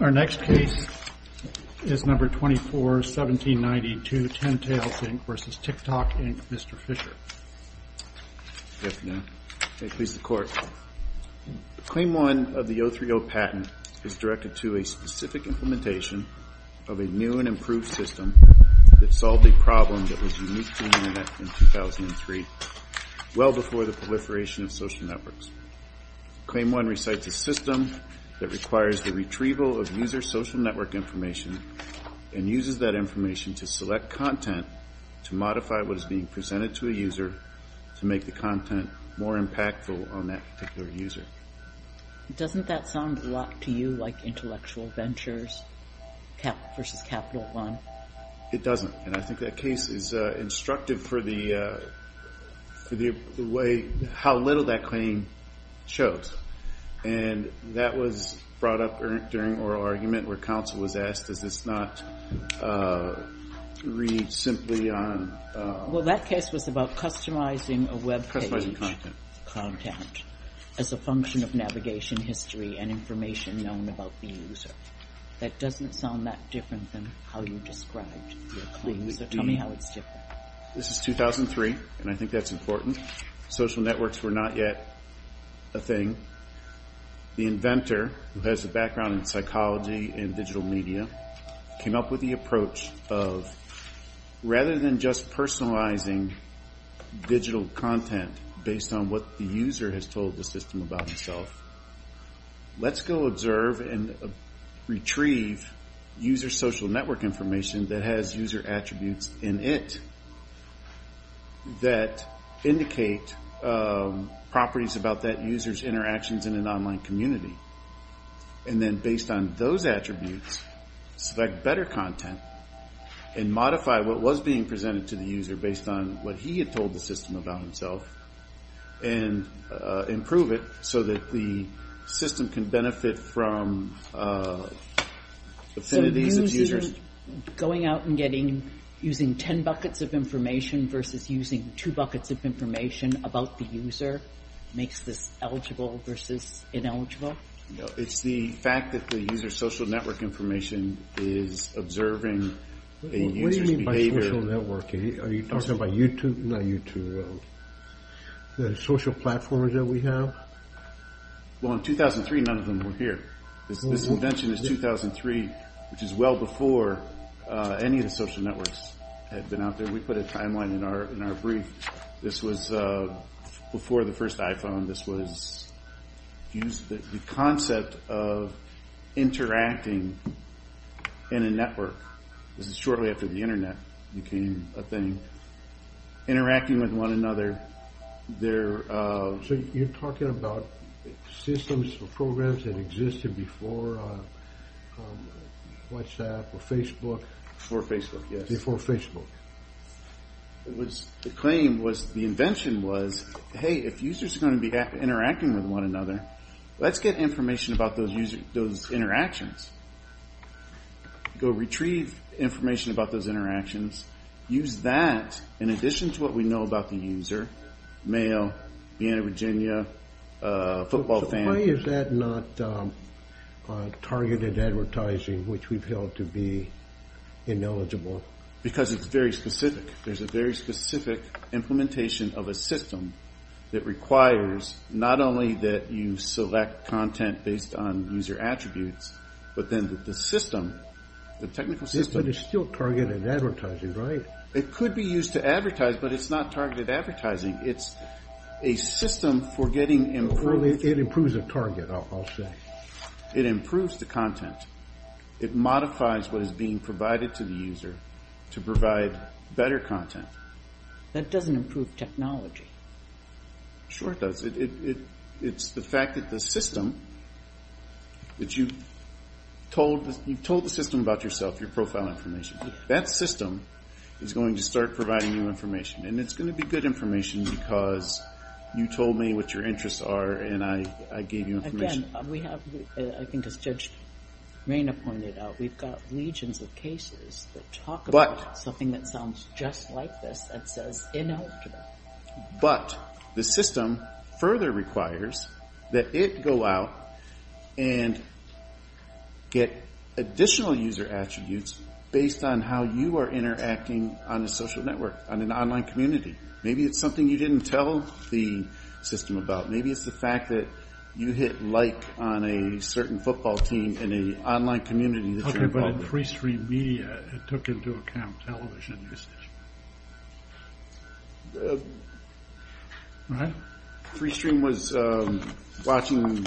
Our next case is No. 24-1792, Tentales, Inc. v. TikTok, Inc., Mr. Fischer. Good afternoon. May it please the Court. Claim 1 of the 03-0 patent is directed to a specific implementation of a new and improved system that solved a problem that was unique to the Internet in 2003, well before the proliferation of social networks. Claim 1 recites a system that requires the retrieval of user social network information and uses that information to select content to modify what is being presented to a user to make the content more impactful on that particular user. Doesn't that sound a lot to you like Intellectual Ventures v. Capital One? It doesn't. And I think that case is instructive for the way how little that claim shows. And that was brought up during oral argument where counsel was asked, does this not read simply on... Well, that case was about customizing a web page. Customizing content. As a function of navigation history and information known about the user. That doesn't sound that different than how you described the user. Tell me how it's different. This is 2003, and I think that's important. Social networks were not yet a thing. The inventor, who has a background in psychology and digital media, came up with the approach of rather than just personalizing digital content based on what the user has told the system about himself, let's go observe and retrieve user social network information that has user attributes in it. That indicate properties about that user's interactions in an online community. And then based on those attributes, select better content and modify what was being presented to the user based on what he had told the system about himself. And improve it so that the system can benefit from... So using, going out and getting, using ten buckets of information versus using two buckets of information about the user makes this eligible versus ineligible? It's the fact that the user's social network information is observing a user's behavior... What do you mean by social network? Are you talking about YouTube? Not YouTube. The social platforms that we have? Well, in 2003, none of them were here. This invention is 2003, which is well before any of the social networks had been out there. We put a timeline in our brief. This was before the first iPhone. This was the concept of interacting in a network. This is shortly after the internet became a thing. Interacting with one another. So you're talking about systems or programs that existed before WhatsApp or Facebook? Before Facebook, yes. Before Facebook. The claim was, the invention was, hey, if users are going to be interacting with one another, let's get information about those interactions. Go retrieve information about those interactions. Use that in addition to what we know about the user. Mail, Vienna, Virginia, football fan. Why is that not targeted advertising, which we've held to be ineligible? Because it's very specific. There's a very specific implementation of a system that requires not only that you select content based on user attributes, but then the system, the technical system... It could be used to advertise, but it's not targeted advertising. It's a system for getting... It improves the target, I'll say. It improves the content. It modifies what is being provided to the user to provide better content. That doesn't improve technology. Sure it does. It's the fact that the system, that you've told the system about yourself, your profile information. That system is going to start providing you information. And it's going to be good information because you told me what your interests are and I gave you information. Again, we have, I think as Judge Reyna pointed out, we've got legions of cases that talk about something that sounds just like this that says ineligible. But the system further requires that it go out and get additional user attributes based on how you are interacting on a social network, on an online community. Maybe it's something you didn't tell the system about. Maybe it's the fact that you hit like on a certain football team in an online community that you're involved with. It's the free stream media it took into account television usage. Free stream was television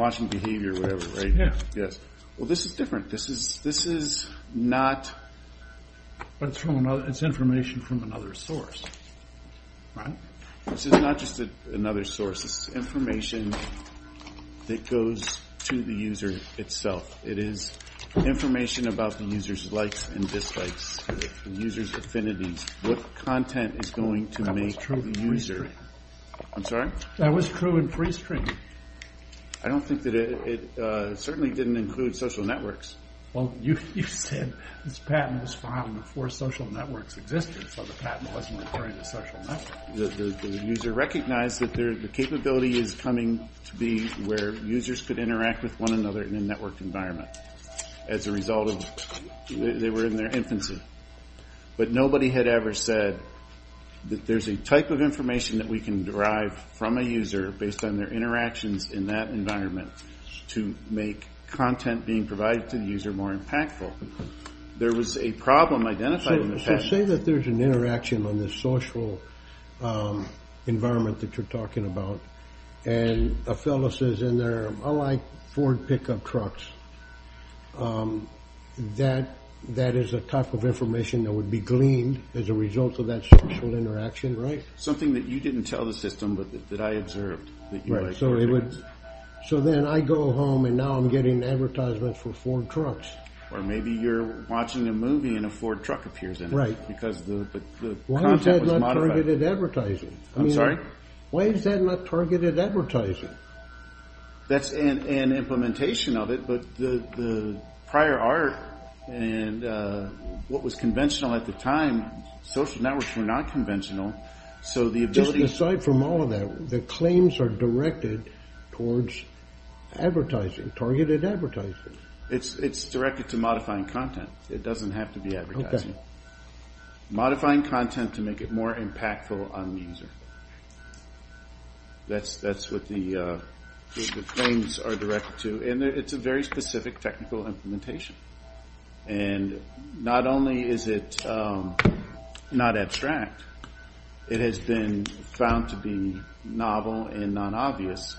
watching behavior or whatever, right? Well this is different. This is not... But it's information from another source. Right? This is not just another source. This is information that goes to the user itself. It is information about the user's likes and dislikes, the user's affinities, what content is going to make the user... I'm sorry? That was true in free stream. I don't think that it... It certainly didn't include social networks. Well you said this patent was filed before social networks existed so the patent wasn't referring to social networks. The user recognized that the capability is coming to be where users could interact with one another in a network environment. As a result of... They were in their infancy. But nobody had ever said that there's a type of information that we can derive from a user based on their interactions in that environment to make content being provided to the user more impactful. There was a problem identified in the patent. Let's say that there's an interaction on this social environment that you're talking about. And a fellow says in there, I like Ford pickup trucks. That is a type of information that would be gleaned as a result of that social interaction, right? Something that you didn't tell the system but that I observed. So then I go home and now I'm getting advertisements for Ford trucks. Or maybe you're watching a movie and a Ford truck appears in it. Because the content was modified. Why is that not targeted advertising? I'm sorry? Why is that not targeted advertising? That's an implementation of it but the prior art and what was conventional at the time, social networks were not conventional. So the ability... Just aside from all of that, the claims are directed towards advertising, targeted advertising. It's directed to modifying content. It doesn't have to be advertising. Modifying content to make it more impactful on the user. That's what the claims are directed to. And it's a very specific technical implementation. And not only is it not abstract, it has been found to be novel and non-obvious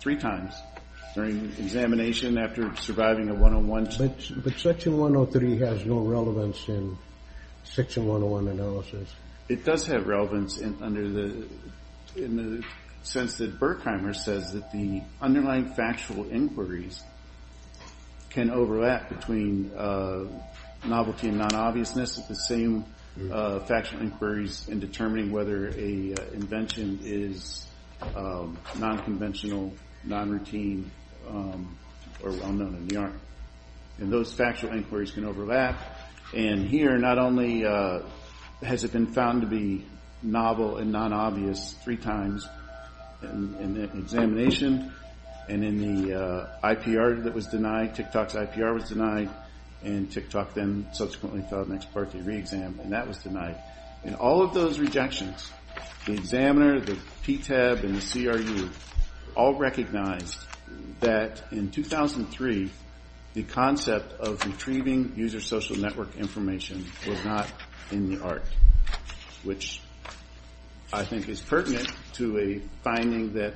three times. During examination, after surviving a one-on-one... But section 103 has no relevance in section 101 analysis. It does have relevance in the sense that Burkheimer says that the underlying factual inquiries can overlap between novelty and non-obviousness. It's the same factual inquiries in determining whether an invention is non-conventional, non-routine, or well-known in the art. And those factual inquiries can overlap. And here, not only has it been found to be novel and non-obvious three times in the examination and in the IPR that was denied, and TikTok then subsequently filed an ex parte re-exam, and that was denied. In all of those rejections, the examiner, the PTAB, and the CRU all recognized that in 2003, the concept of retrieving user social network information was not in the art. Which I think is pertinent to a finding that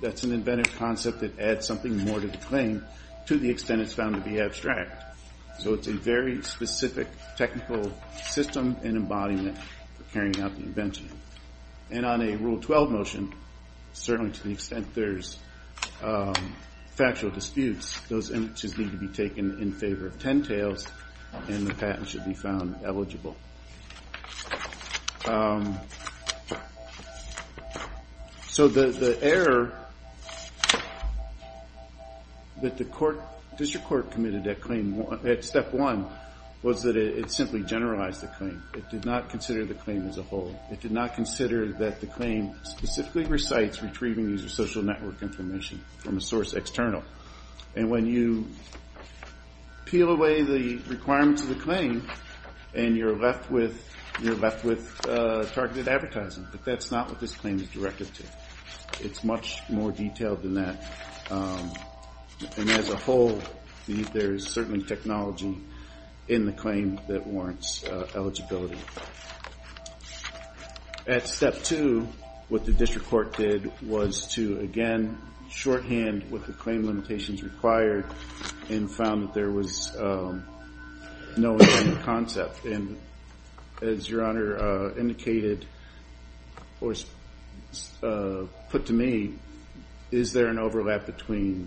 that's an inventive concept that adds something more to the claim, to the extent it's found to be abstract. So it's a very specific technical system and embodiment for carrying out the invention. And on a Rule 12 motion, certainly to the extent there's factual disputes, those images need to be taken in favor of 10 tails, and the patent should be found eligible. So the error that the District Court committed at step one was that it simply generalized the claim. It did not consider the claim as a whole. It did not consider that the claim specifically recites retrieving user social network information from a source external. And when you peel away the requirements of the claim, and you're left with targeted advertising. But that's not what this claim is directed to. It's much more detailed than that. And as a whole, there's certainly technology in the claim that warrants eligibility. At step two, what the District Court did was to, again, shorthand what the claim limitations required, and found that there was no intended concept. And as Your Honor indicated, or put to me, is there an overlap between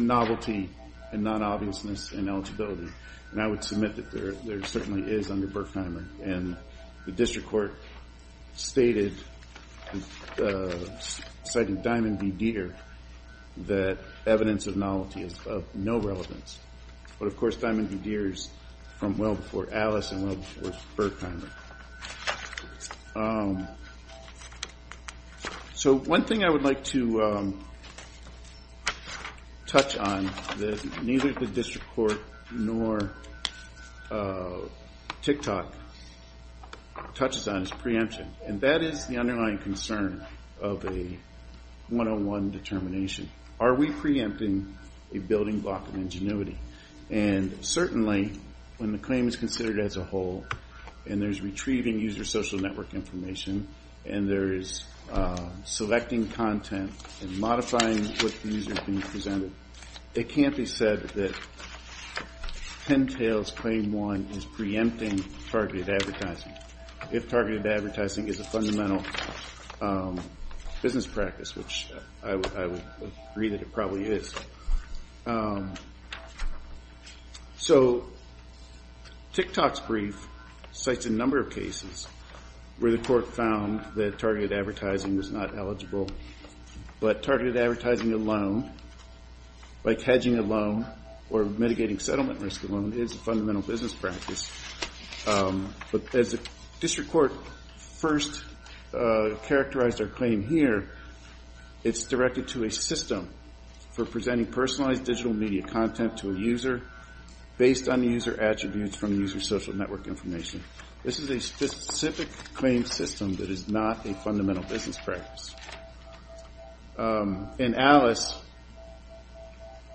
novelty and non-obviousness in eligibility? And I would submit that there certainly is under Berkheimer. And the District Court stated, citing Diamond v. Deere, that evidence of novelty is of no relevance. But, of course, Diamond v. Deere is from well before Alice and well before Berkheimer. So one thing I would like to touch on that neither the District Court nor TICTOC touches on is preemption. And that is the underlying concern of a 101 determination. Are we preempting a building block of ingenuity? And certainly, when the claim is considered as a whole, and there's retrieving user social network information, and there is selecting content and modifying what the user has been presented, it can't be said that Pentail's Claim 1 is preempting targeted advertising, if targeted advertising is a fundamental business practice, which I would agree that it probably is. So TICTOC's brief cites a number of cases where the Court found that targeted advertising is not eligible. But targeted advertising alone, like hedging alone or mitigating settlement risk alone, is a fundamental business practice. But as the District Court first characterized our claim here, it's directed to a system for presenting personalized digital media content to a user based on the user attributes from the user social network information. This is a specific claim system that is not a fundamental business practice. In Alice,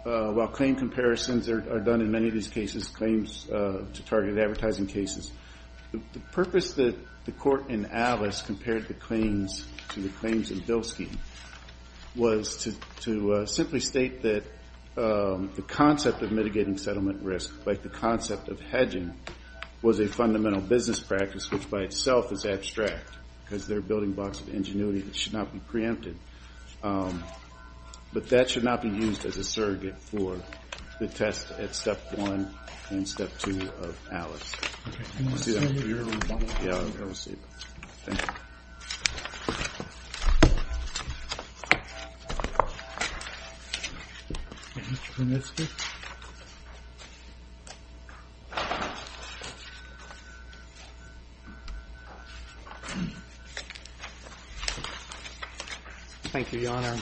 while claim comparisons are done in many of these cases, claims to targeted advertising cases, the purpose that the Court in Alice compared the claims to the claims in Bilski was to simply state that the concept of mitigating settlement risk, like the concept of hedging, was a fundamental business practice, which by itself is abstract, because there are building blocks of ingenuity that should not be preempted. But that should not be used as a surrogate for the test at Step 1 and Step 2 of Alice. Thank you. Thank you, Your Honor.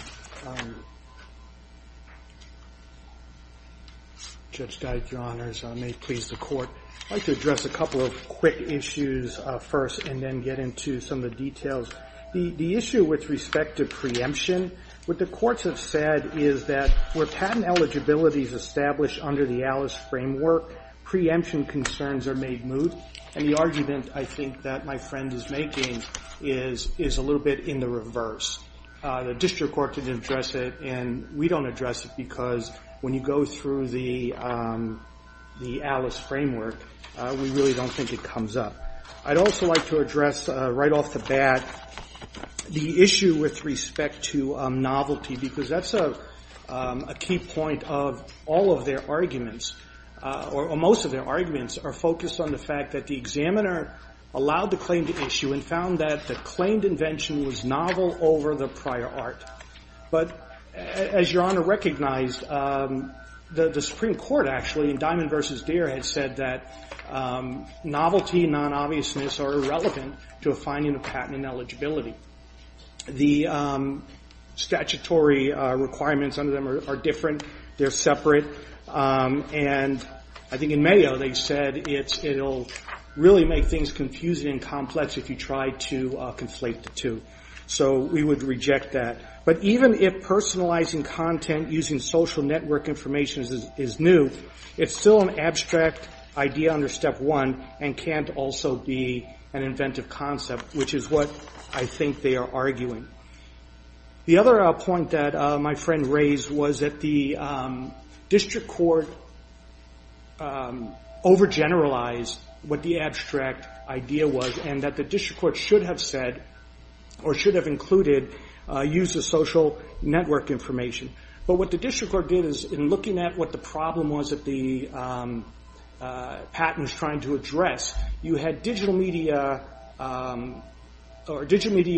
Judge Dyke, Your Honors, may it please the Court. I'd like to address a couple of quick issues first and then get into some of the details. The issue with respect to preemption, what the courts have said is that where patent eligibility is established under the Alice framework, preemption concerns are made moot. And the argument, I think, that my friend is making is a little bit in the reverse. The district court didn't address it, and we don't address it because when you go through the Alice framework, we really don't think it comes up. I'd also like to address right off the bat the issue with respect to novelty, because that's a key point of all of their arguments, or most of their arguments are focused on the fact that the examiner allowed the claim to issue and found that the claimed invention was novel over the prior art. But as Your Honor recognized, the Supreme Court, actually, in Diamond v. Deere, had said that novelty and non-obviousness are irrelevant to a finding of patent ineligibility. The statutory requirements under them are different. They're separate. And I think in Mayo they said it'll really make things confusing and complex if you try to conflate the two. So we would reject that. But even if personalizing content using social network information is new, it's still an abstract idea under Step 1 and can't also be an inventive concept, which is what I think they are arguing. The other point that my friend raised was that the district court overgeneralized what the abstract idea was and that the district court should have said, or should have included, use of social network information. But what the district court did is, in looking at what the problem was that the patent was trying to address, you had digital media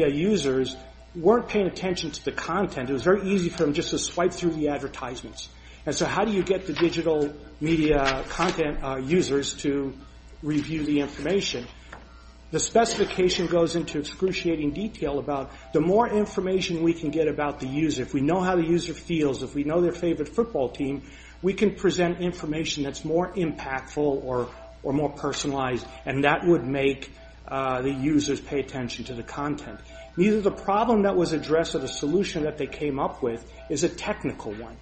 users who weren't paying attention to the content. It was very easy for them just to swipe through the advertisements. And so how do you get the digital media content users to review the information? The specification goes into excruciating detail about the more information we can get about the user, if we know how the user feels, if we know their favorite football team, we can present information that's more impactful or more personalized, and that would make the users pay attention to the content. Neither the problem that was addressed or the solution that they came up with is a technical one.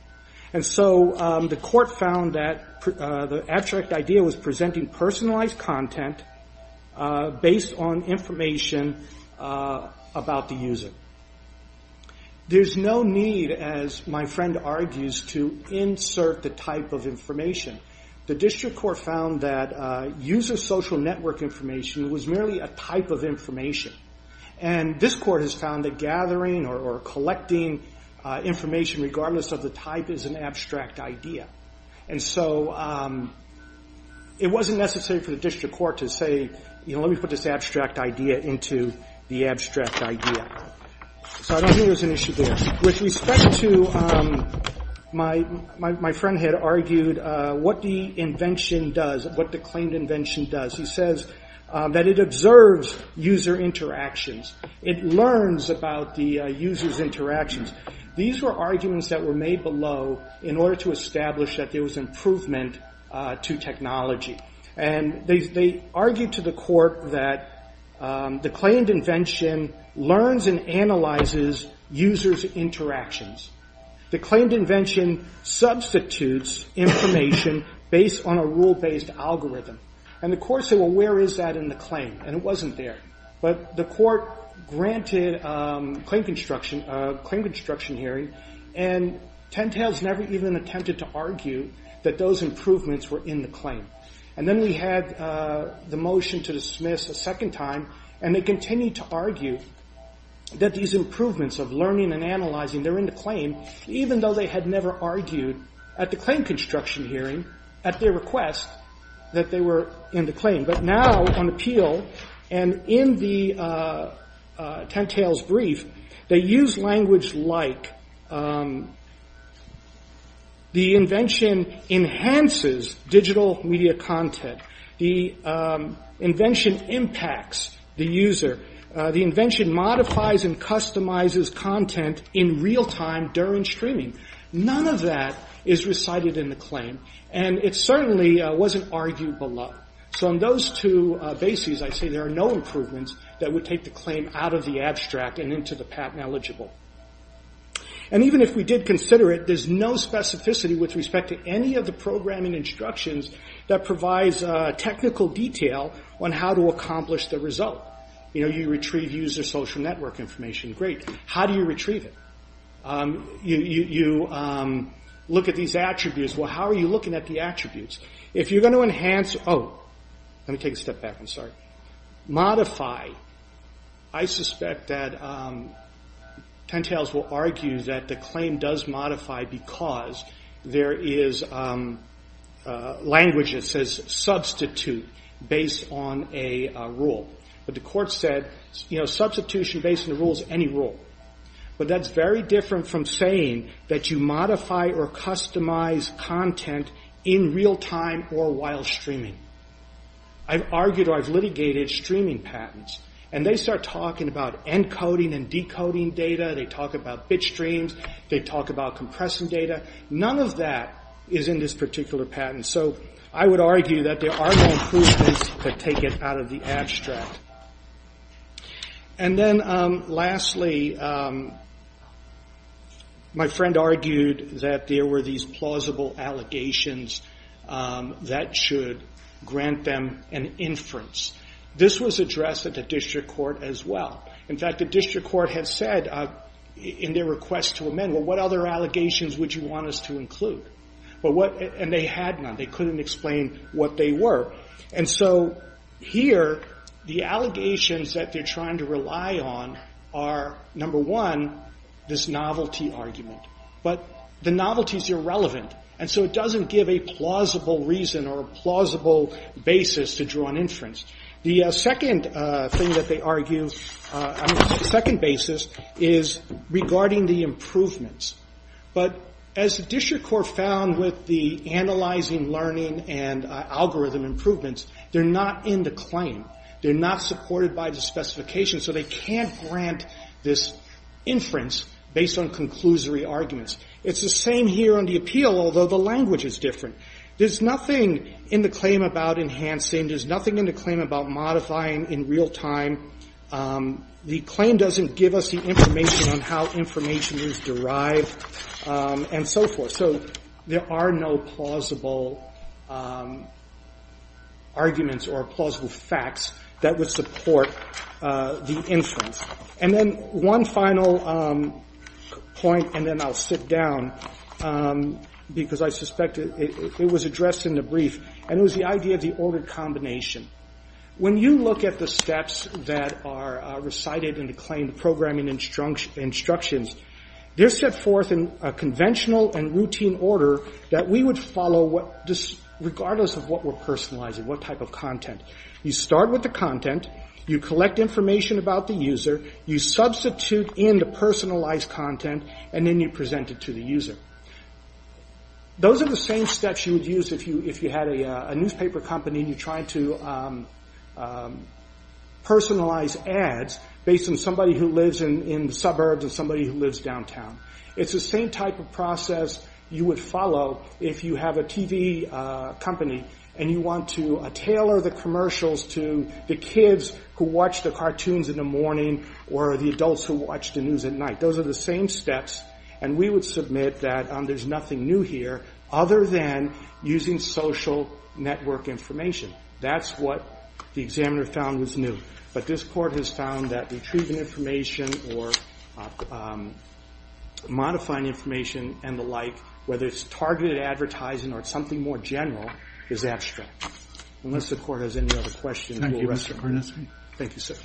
And so the court found that the abstract idea was presenting personalized content based on information about the user. There's no need, as my friend argues, to insert the type of information. The district court found that user social network information was merely a type of information. And this court has found that gathering or collecting information regardless of the type is an abstract idea. And so it wasn't necessary for the district court to say, you know, let me put this abstract idea into the abstract idea. So I don't think there's an issue there. With respect to, my friend had argued what the invention does, what the claimed invention does. He says that it observes user interactions. It learns about the user's interactions. These were arguments that were made below in order to establish that there was improvement to technology. And they argued to the court that the claimed invention learns and analyzes users' interactions. The claimed invention substitutes information based on a rule-based algorithm. And the court said, well, where is that in the claim? And it wasn't there. But the court granted a claim construction hearing, and Tentales never even attempted to argue that those improvements were in the claim. And then we had the motion to dismiss a second time, and they continued to argue that these improvements of learning and analyzing, they're in the claim, even though they had never argued at the claim construction hearing, at their request, that they were in the claim. But now on appeal and in the Tentales brief, they use language like the invention enhances digital media content. The invention impacts the user. The invention modifies and customizes content in real time during streaming. None of that is recited in the claim. And it certainly wasn't argued below. So on those two bases, I say there are no improvements that would take the claim out of the abstract and into the patent eligible. And even if we did consider it, there's no specificity with respect to any of the programming instructions that provides technical detail on how to accomplish the result. You know, you retrieve user social network information. Great. How do you retrieve it? You look at these attributes. Well, how are you looking at the attributes? If you're going to enhance, oh, let me take a step back. I'm sorry. Modify. I suspect that Tentales will argue that the claim does modify because there is language that says substitute based on a rule. But the court said, you know, substitution based on the rule is any rule. But that's very different from saying that you modify or customize content in real time or while streaming. I've argued or I've litigated streaming patents. And they start talking about encoding and decoding data. They talk about bit streams. They talk about compressing data. None of that is in this particular patent. So I would argue that there are no improvements that take it out of the abstract. And then lastly, my friend argued that there were these plausible allegations that should grant them an inference. This was addressed at the district court as well. In fact, the district court had said in their request to amend, well, what other allegations would you want us to include? And they had none. They couldn't explain what they were. And so here, the allegations that they're trying to rely on are, number one, this novelty argument. But the novelty is irrelevant. And so it doesn't give a plausible reason or a plausible basis to draw an inference. The second thing that they argue, second basis, is regarding the improvements. But as the district court found with the analyzing learning and algorithm improvements, they're not in the claim. They're not supported by the specification. So they can't grant this inference based on conclusory arguments. It's the same here on the appeal, although the language is different. There's nothing in the claim about enhancing. There's nothing in the claim about modifying in real time. The claim doesn't give us the information on how information is derived and so forth. So there are no plausible arguments or plausible facts that would support the inference. And then one final point, and then I'll sit down, because I suspect it was addressed in the brief, and it was the idea of the ordered combination. When you look at the steps that are recited in the claim, the programming instructions, they're set forth in a conventional and routine order that we would follow regardless of what we're personalizing, what type of content. You start with the content. You collect information about the user. You substitute in the personalized content. And then you present it to the user. Those are the same steps you would use if you had a newspaper company and you're trying to personalize ads based on somebody who lives in the suburbs and somebody who lives downtown. It's the same type of process you would follow if you have a TV company and you want to tailor the commercials to the kids who watch the cartoons in the morning or the adults who watch the news at night. Those are the same steps. And we would submit that there's nothing new here other than using social network information. That's what the examiner found was new. But this Court has found that retrieving information or modifying information and the like, whether it's targeted advertising or something more general, is abstract, unless the Court has any other questions. Thank you, Mr. Kornisky. Thank you, sir.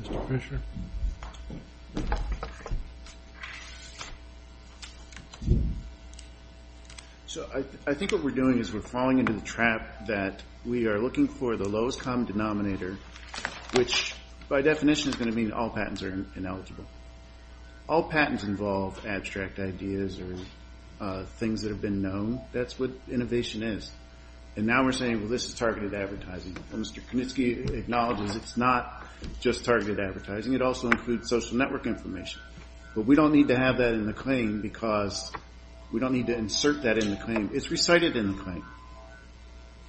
Mr. Fisher. So I think what we're doing is we're falling into the trap that we are looking for the lowest common denominator, which by definition is going to mean all patents are ineligible. All patents involve abstract ideas or things that have been known. That's what innovation is. And now we're saying, well, this is targeted advertising. Mr. Kornisky acknowledges it's not just targeted advertising. It also includes social network information. But we don't need to have that in the claim because we don't need to insert that in the claim. It's recited in the claim.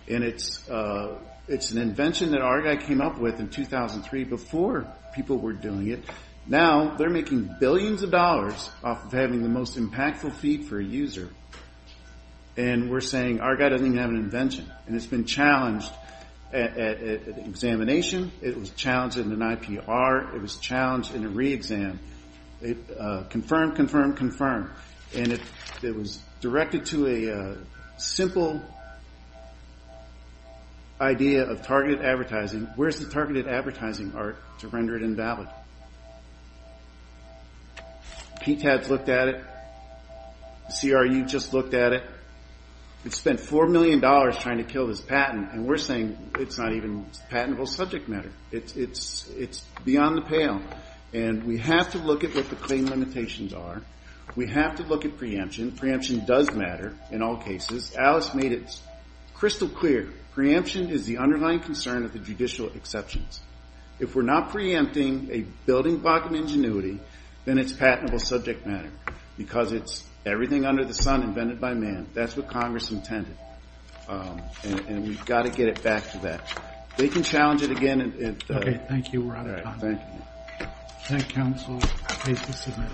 And it's an invention that Argyle came up with in 2003 before people were doing it. Now they're making billions of dollars off of having the most impactful feed for a user, and we're saying Argyle doesn't even have an invention. And it's been challenged at examination. It was challenged in an IPR. It was challenged in a re-exam. Confirm, confirm, confirm. And it was directed to a simple idea of targeted advertising. Where's the targeted advertising art to render it invalid? PTAD's looked at it. The CRU just looked at it. It spent $4 million trying to kill this patent, and we're saying it's not even patentable subject matter. It's beyond the pale. And we have to look at what the claim limitations are. We have to look at preemption. Preemption does matter in all cases. Alice made it crystal clear. Preemption is the underlying concern of the judicial exceptions. If we're not preempting a building block of ingenuity, then it's patentable subject matter because it's everything under the sun invented by man. That's what Congress intended. And we've got to get it back to that. They can challenge it again. Okay, thank you. We're out of time. Thank you, counsel. Please be seated.